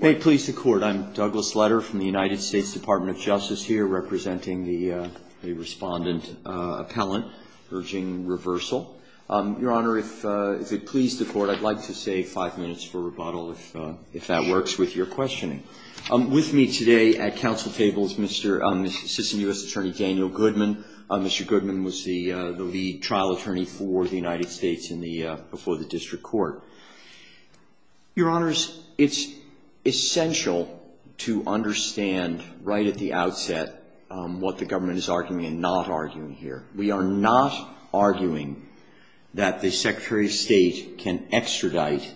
May it please the court, I'm Douglas Letter from the United States Department of Justice here representing the respondent appellant urging reversal. Your honor, if it pleased the court I'd like to save five minutes for rebuttal if if that works with your questioning. With me today at council table is Mr. Assistant U.S. Attorney Daniel Goodman. Mr. Goodman was the the lead trial attorney for the United States before the district court. Your honors, it's essential to understand right at the outset what the government is arguing and not arguing here. We are not arguing that the Secretary of State can extradite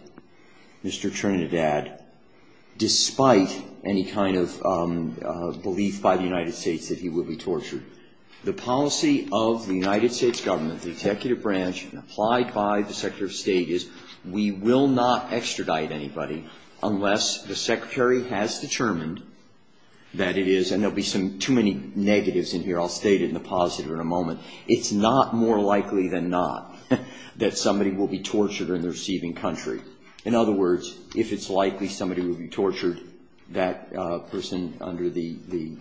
Mr. Trinidad despite any kind of belief by the United States that he would be extradited. We will not extradite anybody unless the secretary has determined that it is and there'll be some too many negatives in here. I'll state it in the positive in a moment. It's not more likely than not that somebody will be tortured or in the receiving country. In other words, if it's likely somebody will be tortured, that person under the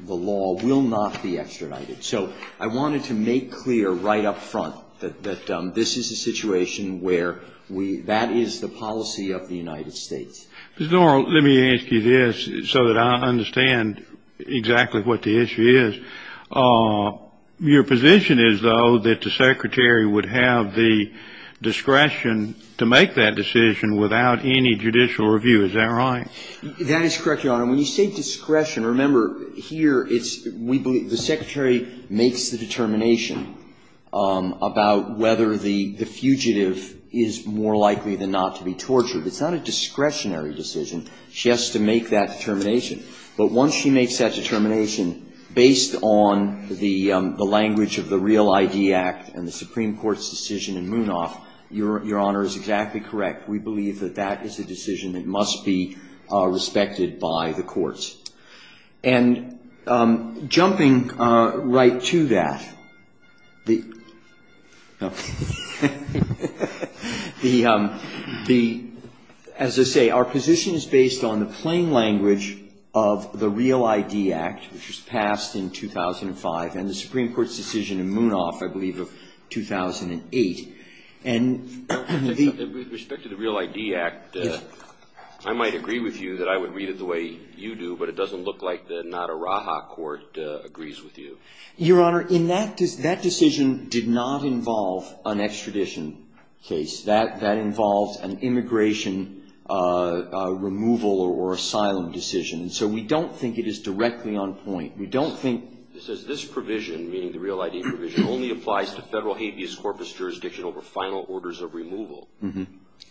law will not be extradited. So I wanted to make clear right up front that this is a situation where that is the policy of the United States. Mr. Norrell, let me ask you this so that I understand exactly what the issue is. Your position is, though, that the secretary would have the discretion to make that decision without any judicial review. Is that right? That is correct, Your Honor. When you say discretion, remember, here it's we believe the secretary makes the determination about whether the fugitive is more likely than not to be tortured. It's not a discretionary decision. She has to make that determination. But once she makes that determination, based on the language of the Real ID Act and the Supreme Court's decision in Munaf, Your Honor is exactly correct. We believe that that is a decision that must be respected by the courts. And jumping right to that, as I say, our position is based on the plain language of the Real ID Act, which was passed in 2005, and the Supreme Court has decided that it is not a discretionary decision. But we do think that it is a decision that must be respected. With respect to the Real ID Act, I might agree with you that I would read it the way you do, but it doesn't look like the Nadarraja Court agrees with you. Your Honor, in that decision did not involve an extradition case. That involves an immigration removal or asylum decision. So we don't think it is directly on point. We don't think... It says this provision, meaning the Real ID provision, only applies to federal habeas corpus jurisdiction over final orders of removal.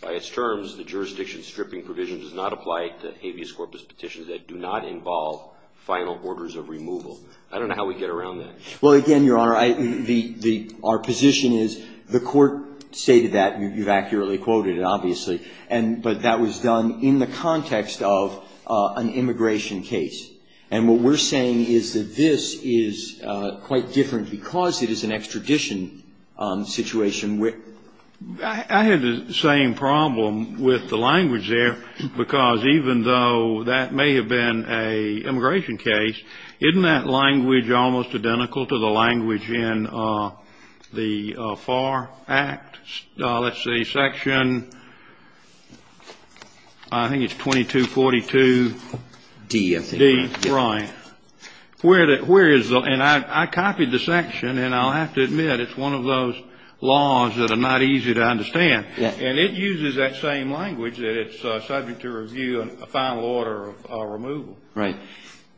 By its terms, the jurisdiction stripping provision does not apply to habeas corpus petitions that do not involve final orders of removal. I don't know how we get around that. Well, again, Your Honor, our position is the Court stated that. You've accurately quoted it, obviously. But that was done in the context of an immigration case. And what we're saying is that this is quite different because it is an extradition situation where... I had the same problem with the language there, because even though that may have been a immigration case, isn't that language almost identical to the language in the FAR Act? Let's see. Section, I think it's 2242... D, I think. D, right. Where is the... And I copied the section, and I'll have to admit it's one of those laws that are not easy to understand. And it uses that same language that it's subject to review and a final order of removal. Right.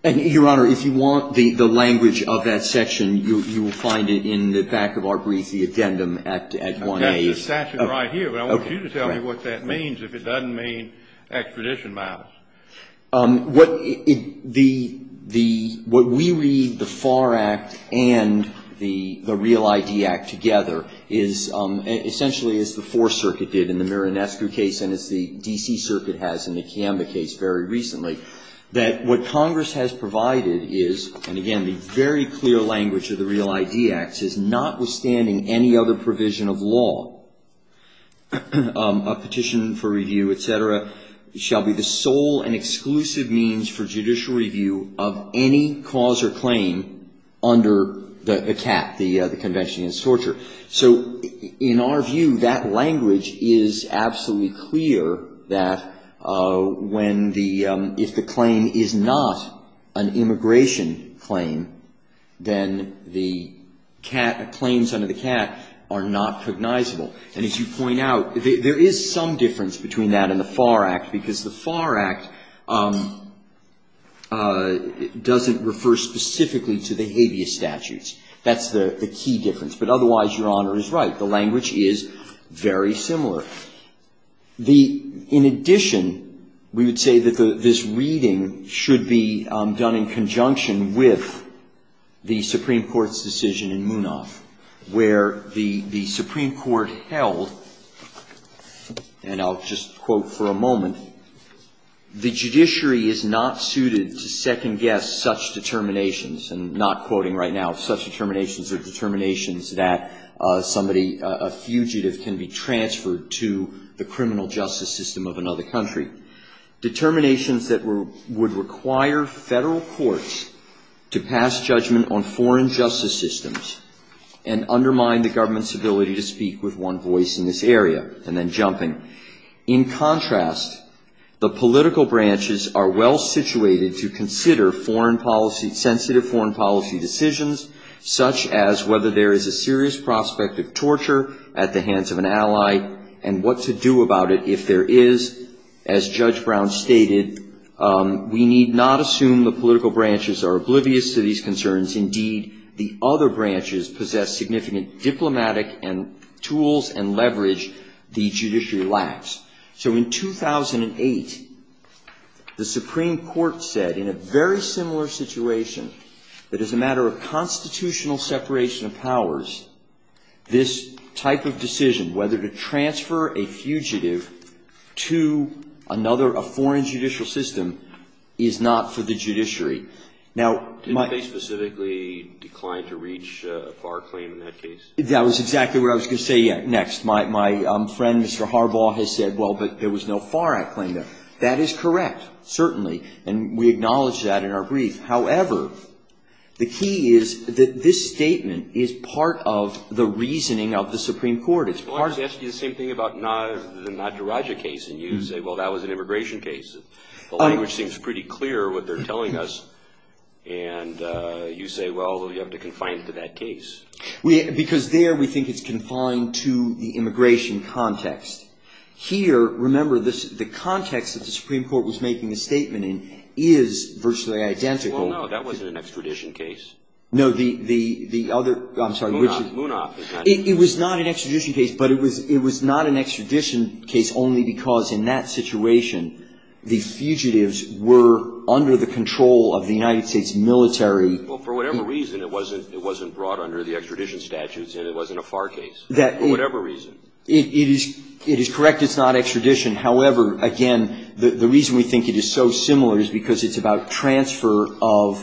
And, Your Honor, if you want the language of that section, you will find it in the back of our brief, the addendum at 1A. That's the statute right here. But I want you to tell me what that means, if it doesn't mean extradition matters. What we read, the FAR Act and the Real ID Act together, is essentially as the Fourth Circuit did in the Miranescu case, and as the D.C. Circuit has in the Kiamba case very recently, that what Congress has provided is, and again, the very clear language of the Real ID Act is, notwithstanding any other provision of law, a petition for review, etc., shall be the sole and exclusive means for judicial review of any cause or claim under the CAT, the Convention Against Torture. So, in our view, that language is absolutely clear that when the, if the claim is not an immigration claim, then the CAT, the claims under the CAT are not cognizable. And as you point out, there is some difference between that and the FAR Act, because the FAR Act doesn't refer specifically to the habeas statutes. That's the key difference. But otherwise, Your Honor is right. The language is very similar. The, in addition, we would say that this reading should be done in conjunction with the Supreme Court's decision in Munaf, where the Supreme Court held, and I'll just quote for a moment, the judiciary is not suited to second-guess such determinations, and not quoting right now, such determinations are determinations that somebody, a fugitive, can be transferred to the criminal justice system of another country. Determinations that would require Federal courts to pass judgment on foreign justice systems and undermine the government's ability to speak with one voice in this area. And then jumping. In contrast, the political branches are well-situated to consider foreign policy, sensitive foreign policy decisions, such as whether there is a serious prospect of torture at the hands of an ally, and what to do about it if there is. As Judge Brown stated, we need not assume the political branches are significant diplomatic tools and leverage the judiciary lacks. So in 2008, the Supreme Court said in a very similar situation, that as a matter of constitutional separation of powers, this type of decision, whether to transfer a fugitive to another, a foreign judicial system, is not for the judiciary. Now, my... Didn't they specifically decline to reach a FAR claim in that case? That was exactly what I was going to say next. My friend, Mr. Harbaugh, has said, well, but there was no FAR act claim there. That is correct, certainly, and we acknowledge that in our brief. However, the key is that this statement is part of the reasoning of the Supreme Court. Well, I was going to ask you the same thing about the Nataraja case, and you say, well, that was an immigration case. The language seems pretty clear, what they're telling us, and you say, well, you have to confine it to that case. Because there, we think it's confined to the immigration context. Here, remember, the context that the Supreme Court was making the statement in is virtually identical. Well, no, that was an extradition case. No, the other, I'm sorry, which is... Munaf. Munaf. It was not an extradition case, but it was not an extradition case only because in that situation, the fugitives were under the control of the United States military. Well, for whatever reason, it wasn't brought under the extradition statutes, and it wasn't a FAR case, for whatever reason. It is correct it's not extradition. However, again, the reason we think it is so similar is because it's about transfer of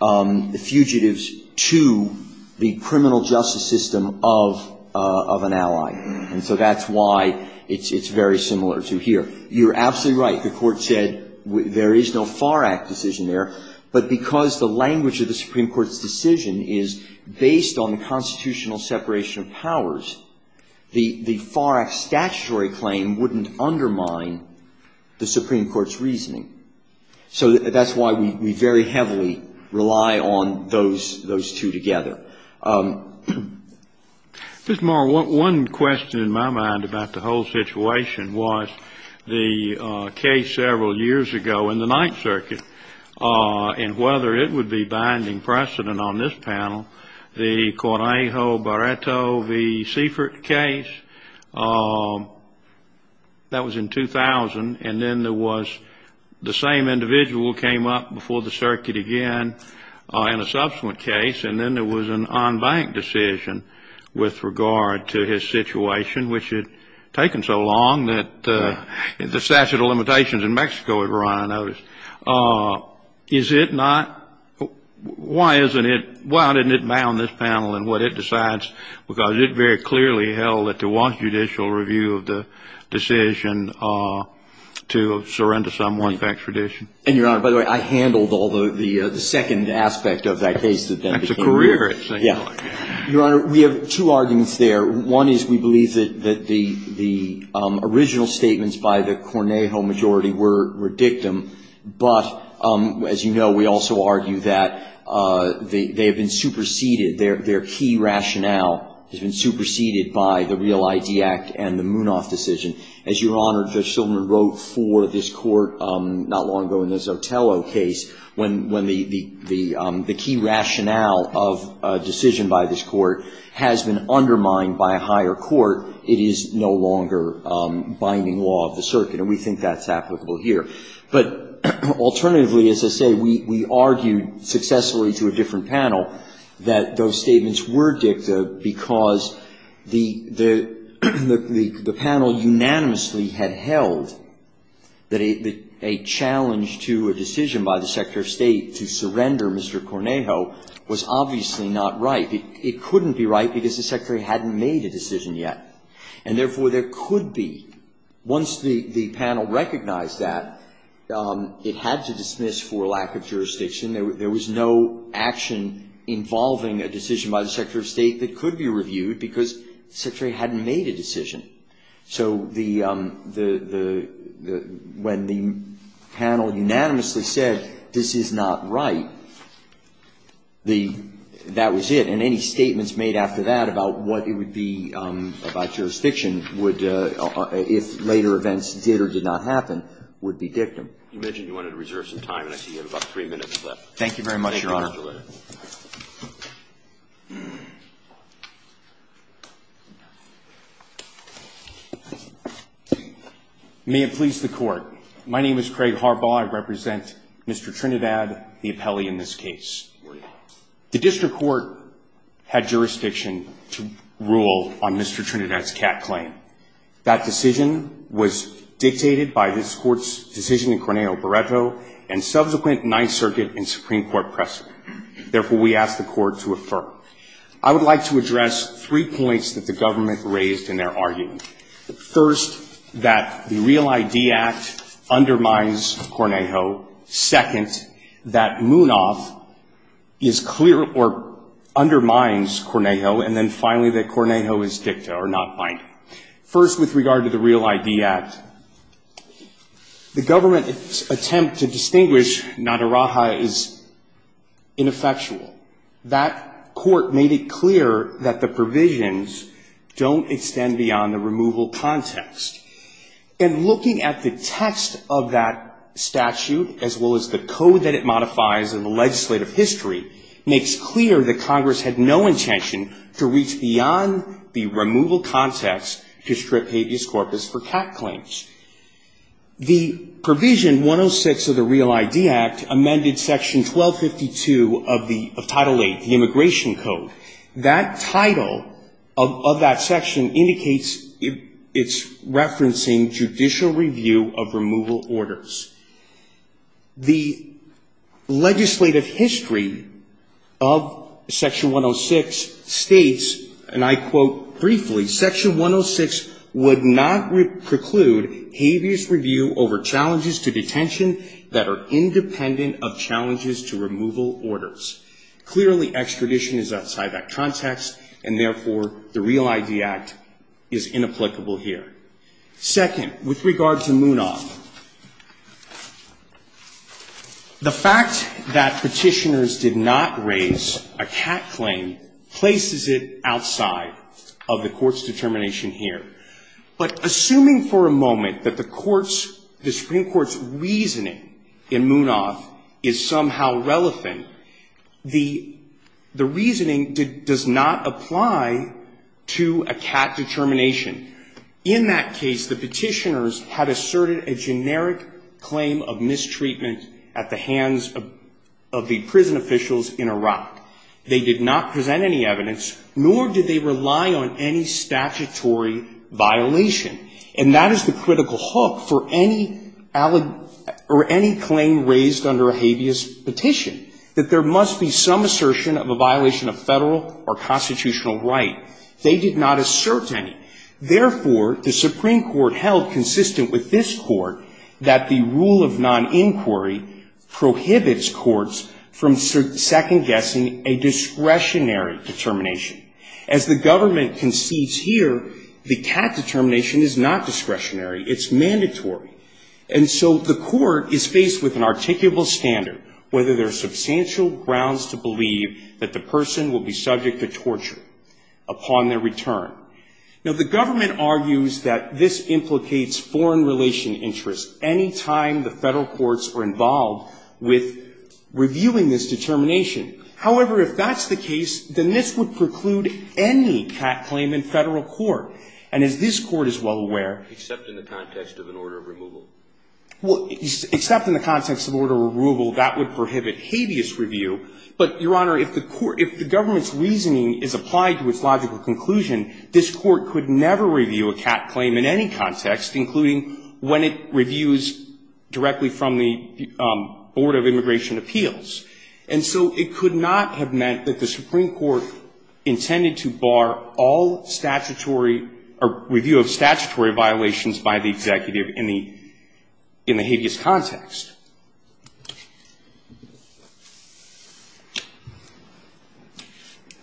the fugitives from the United States to the criminal justice system of an ally, and so that's why it's very similar to here. You're absolutely right. The Court said there is no FAR Act decision there, but because the language of the Supreme Court's decision is based on the constitutional separation of powers, the FAR Act statutory claim wouldn't undermine the Supreme Court's reasoning. So that's why we very heavily rely on those two together. Just, Mark, one question in my mind about the whole situation was the case several years ago in the Ninth Circuit, and whether it would be binding precedent on this panel, the Correjo Barreto v. Seifert case. That was in 2000, and then there was the same individual came up before the circuit again in a subsequent case, and then there was an en banc decision with regard to his situation, which had taken so long that the statute of limitations in Mexico had run out. Is it not? Why isn't it? Why didn't it bound this panel in what it decides? Because it very clearly held that there was judicial review of the decision to surrender someone's extradition. And, Your Honor, by the way, I handled all the second aspect of that case. That's a career, actually. Your Honor, we have two arguments there. One is we believe that the original statements by the Correjo majority were dictum, but, as you know, we also argue that they have been superseded, their key rationale has been superseded by the Real ID Act and the Munoz decision. As Your Honor, Judge Silverman wrote for this Court not long ago in the Zotello case, when the key rationale of a decision by this Court has been undermined by a higher court, it is no longer binding law of the circuit, and we think that's applicable here. But alternatively, as I say, we argued successfully to a different panel that those statements were dictum because the panel unanimously had held that a challenge to a decision by the Secretary of State to surrender Mr. Correjo was obviously not right. It couldn't be right because the Secretary hadn't made a decision yet, and therefore there could be. Once the panel recognized that, it had to dismiss for lack of jurisdiction. There was no action involving a decision by the Secretary of State that could be reviewed because the Secretary hadn't made a decision. So the, the, the, when the panel unanimously said this is not right, the, that was it, and any statements made after that about what it would be about jurisdiction would, if later events did or did not happen, would be dictum. You mentioned you wanted to reserve some time, and I see you have about three minutes left. Thank you very much, Your Honor. Thank you, Mr. Litter. May it please the Court. My name is Craig Harbaugh. I represent Mr. Trinidad, the appellee in this case. The district court had jurisdiction to rule on Mr. Trinidad's CAT claim. That decision was dictated by this Court's decision in Correjo and subsequent Ninth Circuit and Supreme Court precedent. Therefore, we ask the Court to affirm. I would like to address three points that the government raised in their argument. First, that the Real ID Act undermines Correjo. Second, that Munoz is clear or undermines Correjo. And then finally, that Correjo is dicta or not binding. First, with regard to the Real ID Act, the government's attempt to distinguish NADARAJA is ineffectual. That court made it clear that the provisions don't extend beyond the removal context. And looking at the text of that statute, as well as the code that it modifies in the legislative history, makes clear that Congress had no intention to reach beyond the removal context to strip habeas corpus for CAT claims. The provision 106 of the Real ID Act amended Section 1252 of Title VIII, the Immigration Code. That title of that section indicates it's referencing judicial review of removal orders. The legislative history of Section 106 states, and I quote briefly, Section 106 would not preclude habeas review over challenges to detention that are independent of challenges to removal orders. Clearly, extradition is outside that context, and therefore, the Real ID Act is inapplicable here. Second, with regard to Munaf, the fact that petitioners did not raise a CAT claim places it outside of the court's determination here. But assuming for a moment that the Supreme Court's reasoning in Munaf is somehow relevant, the reasoning does not apply to a CAT determination. In that case, the petitioners had asserted a generic claim of mistreatment at the hands of the prison officials in Iraq. They did not present any evidence, nor did they rely on any statutory violation. And that is the critical hook for any claim raised under a habeas petition, that there must be some assertion of a violation of federal or constitutional right. They did not assert any. Therefore, the Supreme Court held consistent with this Court that the rule of noninquiry prohibits courts from second-guessing a discretionary determination. As the government concedes here, the CAT determination is not discretionary. It's mandatory. And so the Court is faced with an articulable standard, whether there are substantial grounds to believe that the person will be subject to torture upon their return. Now, the government argues that this implicates foreign-relation interests any time the federal courts are involved with reviewing this determination. However, if that's the case, then this would preclude any CAT claim in federal court. And as this Court is well aware --" Except in the context of an order of removal. Well, except in the context of order of removal, that would prohibit habeas review. But, Your Honor, if the government's reasoning is applied to its logical conclusion, this Court could never review a CAT claim in any context, including when it reviews directly from the Board of Immigration Appeals. And so it could not have meant that the Supreme Court intended to bar all statutory or review of statutory violations by the executive in the habeas context.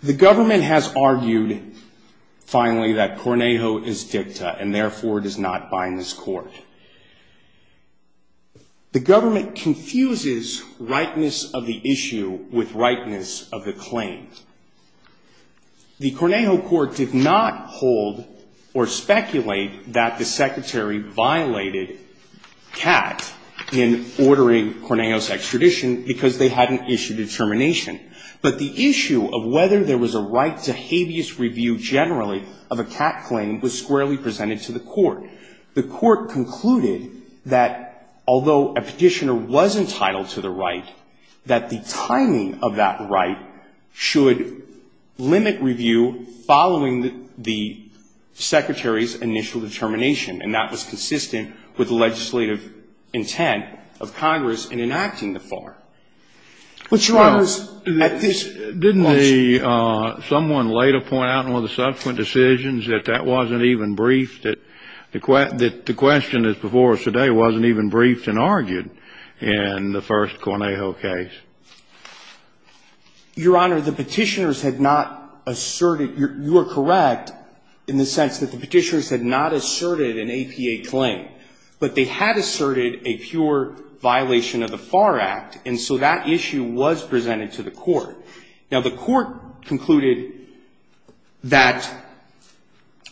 The government has argued, finally, that Cornejo is dicta, and therefore does not bind this Court. The government confuses rightness of the issue with rightness of the claim. The Cornejo Court did not hold or speculate that the Secretary violated CAT in ordering Cornejo's extradition because they hadn't issued a termination. But the issue of whether there was a right to habeas review generally of a CAT claim was squarely presented to the Court. The Court concluded that although a petitioner was entitled to the right, that the timing of that right should limit review following the Secretary's initial determination. And that was consistent with the legislative intent of Congress in enacting the FAR. But, Your Honor, at this point ---- Didn't someone later point out in one of the subsequent decisions that that wasn't even briefed, that the question that's before us today wasn't even briefed and argued in the first Cornejo case? Your Honor, the petitioners had not asserted ---- you are correct in the sense that the petitioners had not asserted an APA claim. But they had asserted a pure violation of the FAR Act, and so that issue was presented to the Court. Now, the Court concluded that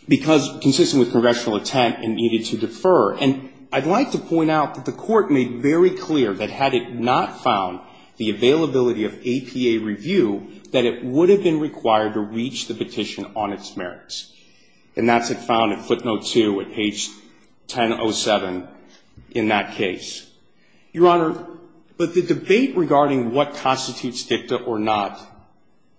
because, consistent with congressional intent, it needed to defer. And I'd like to point out that the Court made very clear that had it not found the availability of APA review, that it would have been required to reach the petition on its merits. And that's what found at footnote 2 at page 1007 in that case. Your Honor, but the debate regarding what constitutes dicta or not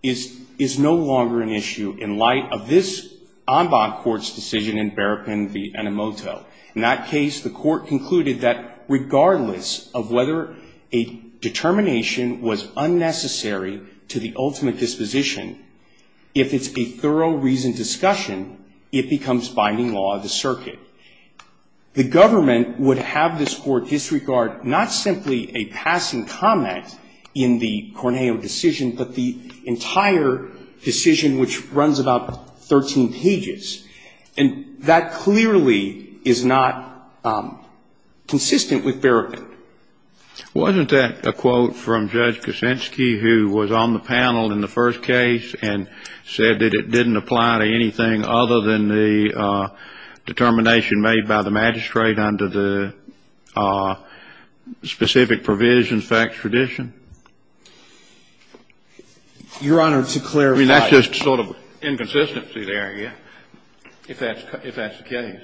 is no longer an issue in light of this en banc court's decision in Berrapin v. Enemoto. In that case, the Court concluded that regardless of whether a determination was unnecessary to the ultimate disposition, if it's a thorough reasoned discussion, it becomes binding law of the circuit. The government would have this Court disregard not simply a passing comment in the Cornejo decision, but the entire decision, which runs about 13 pages. And that clearly is not consistent with Berrapin. Wasn't that a quote from Judge Kuczynski, who was on the panel in the first case and said that it didn't apply to anything other than the determination made by the magistrate under the specific provisions of extradition? Your Honor, to clarify. I mean, that's just sort of inconsistency there, yeah. If that's the case.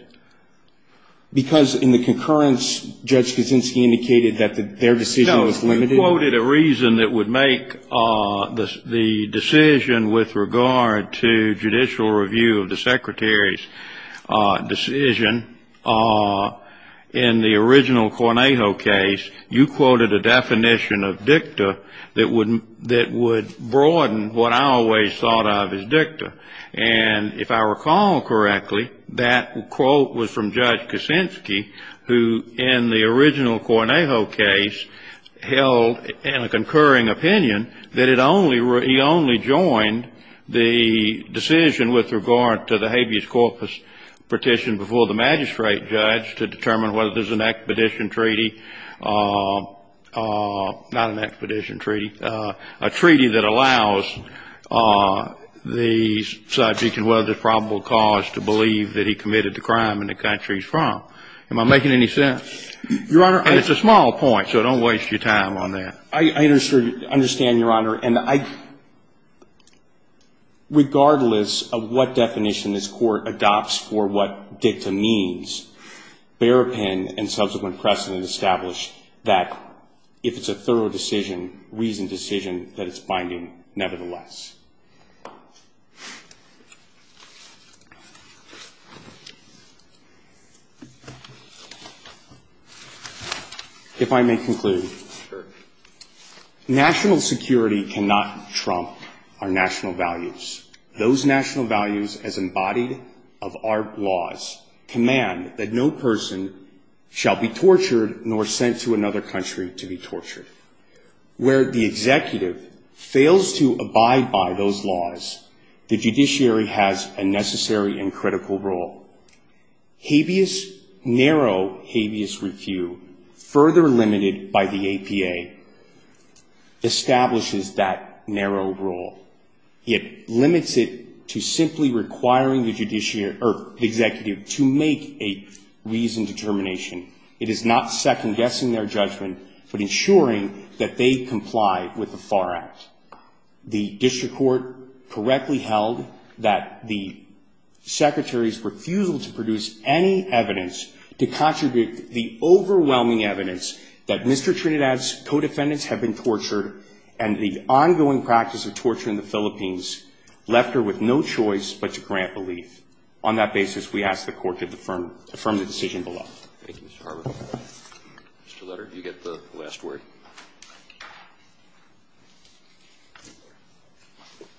Because in the concurrence, Judge Kuczynski indicated that their decision was limited. No, you quoted a reason that would make the decision with regard to judicial review of the Secretary's decision. In the original Cornejo case, you quoted a definition of dicta that would broaden what I always thought of as dicta. And if I recall correctly, that quote was from Judge Kuczynski, who in the original Cornejo case held in a concurring opinion that it only, he only joined the decision with regard to the habeas corpus petition before the magistrate judge to determine whether there's an expedition treaty, not an expedition treaty, a treaty that allows the subject and whether there's probable cause to believe that he committed the crime in the country he's from. Am I making any sense? Your Honor, I just ---- And it's a small point, so don't waste your time on that. I understand, Your Honor. And I, regardless of what definition this Court adopts for what dicta means, Bearpen and subsequent precedent establish that if it's a thorough decision, reasoned decision, that it's binding nevertheless. If I may conclude. Sure. National security cannot trump our national values. Those national values as embodied of our laws command that no person shall be tortured nor sent to another country to be tortured. Where the executive fails to abide by those laws, the judiciary has a necessary and critical role. Habeas, narrow habeas refu, further limited by the APA, establishes that narrow role. It limits it to simply requiring the executive to make a reasoned determination. It is not second-guessing their judgment, but ensuring that they comply with the FAR Act. The district court correctly held that the secretary's refusal to produce any evidence to contribute the overwhelming evidence that Mr. Trinidad's co-defendants have been tortured and the ongoing practice of torture in the Philippines left her with no choice but to grant belief. On that basis, we ask the Court to affirm the decision below. Thank you, Mr. Harbaugh. Mr. Letter, you get the last word.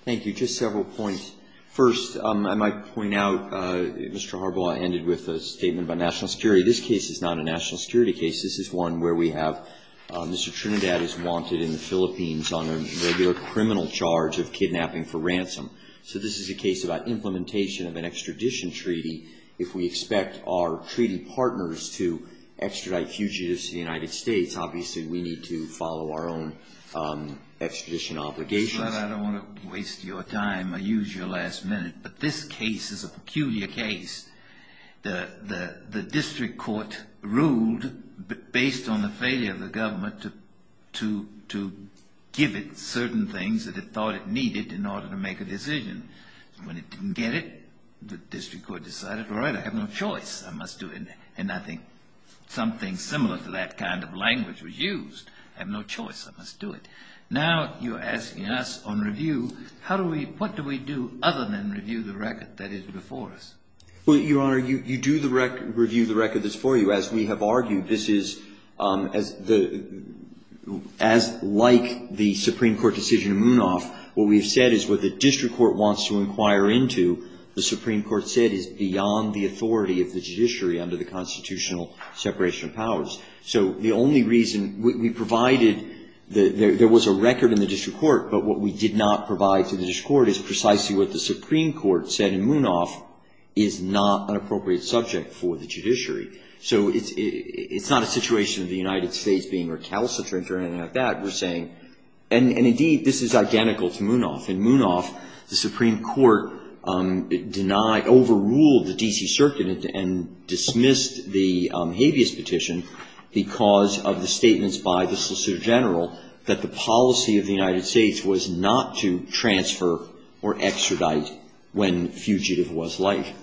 Thank you. Just several points. First, I might point out, Mr. Harbaugh, I ended with a statement by national security. This case is not a national security case. This is one where we have Mr. Trinidad is wanted in the Philippines on a regular criminal charge of kidnapping for ransom. So this is a case about implementation of an extradition treaty. If we expect our treaty partners to extradite fugitives to the United States, obviously we need to follow our own extradition obligations. Mr. Letter, I don't want to waste your time or use your last minute, but this case is a peculiar case. The district court ruled, based on the failure of the government to give it certain things that it thought it needed in order to make a decision. When it didn't get it, the district court decided, all right, I have no choice. I must do it. And I think something similar to that kind of language was used. I have no choice. I must do it. Now you're asking us on review, what do we do other than review the record that is before us? Well, Your Honor, you do review the record that's before you. Your Honor, as we have argued, this is, as like the Supreme Court decision in Munaf, what we have said is what the district court wants to inquire into, the Supreme Court said, is beyond the authority of the judiciary under the constitutional separation of powers. So the only reason we provided, there was a record in the district court, but what we did not provide to the district court is precisely what the Supreme Court said in Munaf is not an appropriate subject for the judiciary. So it's not a situation of the United States being recalcitrant or anything like that. We're saying, and indeed, this is identical to Munaf. In Munaf, the Supreme Court denied, overruled the D.C. Circuit and dismissed the habeas petition because of the statements by the Solicitor General that the policy of the United States was not to transfer or extradite when fugitive was like.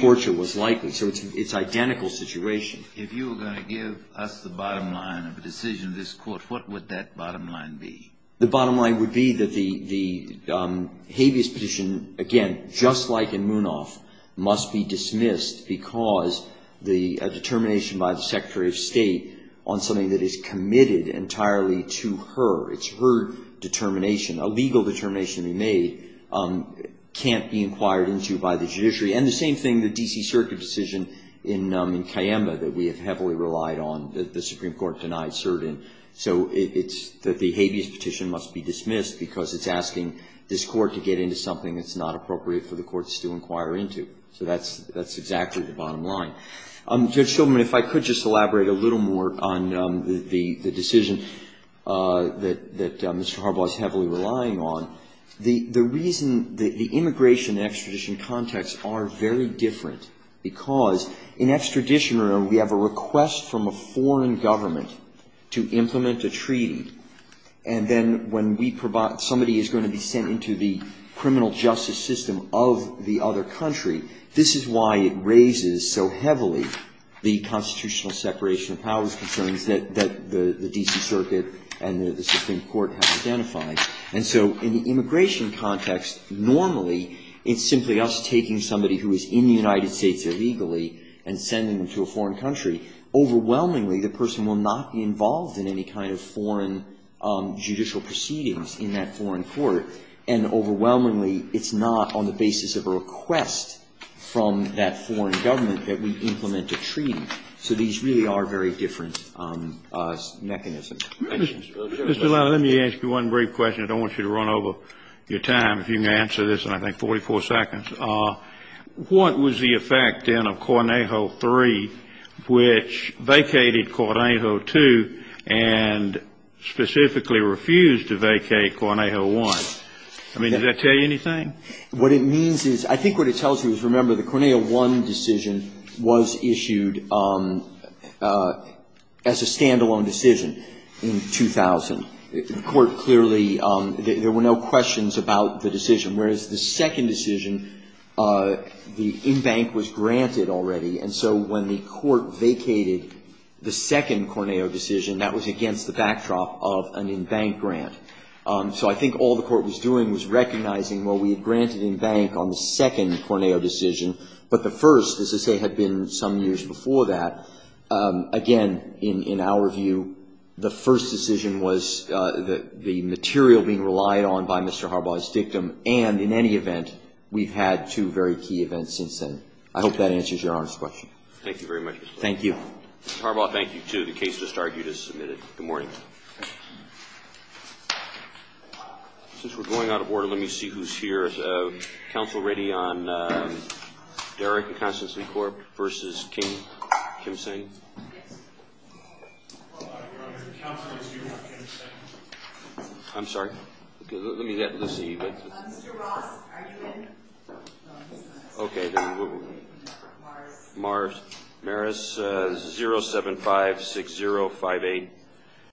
Torture was likely. So it's an identical situation. If you were going to give us the bottom line of a decision of this court, what would that bottom line be? The bottom line would be that the habeas petition, again, just like in Munaf, must be dismissed because the determination by the Secretary of State on something that is committed entirely to her, it's her determination, a legal determination to be made, can't be inquired into by the judiciary. And the same thing, the D.C. Circuit decision in Cayamba that we have heavily relied on, the Supreme Court denied certain. So it's that the habeas petition must be dismissed because it's asking this court to get into something that's not appropriate for the courts to inquire into. So that's exactly the bottom line. Judge Shulman, if I could just elaborate a little more on the decision that Mr. Harbaugh is heavily relying on. The reason the immigration and extradition context are very different because in extradition, we have a request from a foreign government to implement a treaty. And then when somebody is going to be sent into the criminal justice system of the other country, this is why it raises so heavily the constitutional separation of powers concerns that the D.C. Circuit and the Supreme Court have identified. And so in the immigration context, normally it's simply us taking somebody who is in the United States illegally and sending them to a foreign country. Overwhelmingly, the person will not be involved in any kind of foreign judicial proceedings in that foreign court. And overwhelmingly, it's not on the basis of a request from that foreign government that we implement a treaty. So these really are very different mechanisms. Thank you. Mr. Gillelan, let me ask you one brief question. I don't want you to run over your time. If you can answer this in, I think, 44 seconds. What was the effect, then, of Cornejo 3, which vacated Cornejo 2 and specifically refused to vacate Cornejo 1? I mean, does that tell you anything? What it means is, I think what it tells you is, remember, the Cornejo 1 decision was issued as a stand-alone decision in 2000. The Court clearly, there were no questions about the decision. Whereas the second decision, the in-bank was granted already. And so when the Court vacated the second Cornejo decision, that was against the backdrop of an in-bank grant. So I think all the Court was doing was recognizing, well, we had granted in-bank on the second Cornejo decision, but the first, as I say, had been some years before that. Again, in our view, the first decision was the material being relied on by Mr. Harbaugh's dictum. And in any event, we've had two very key events since then. I hope that answers Your Honor's question. Thank you very much. Thank you. Mr. Harbaugh, thank you, too. The case just argued is submitted. Good morning. Since we're going out of order, let me see who's here. Counsel Ritty on Derrick and Constance LeCorp versus Kim. Kim Singh? I'm sorry. Let me see. Mr. Ross, are you in? 0756058. 0756058. 0756058. 0756058. 0756058. 0756058.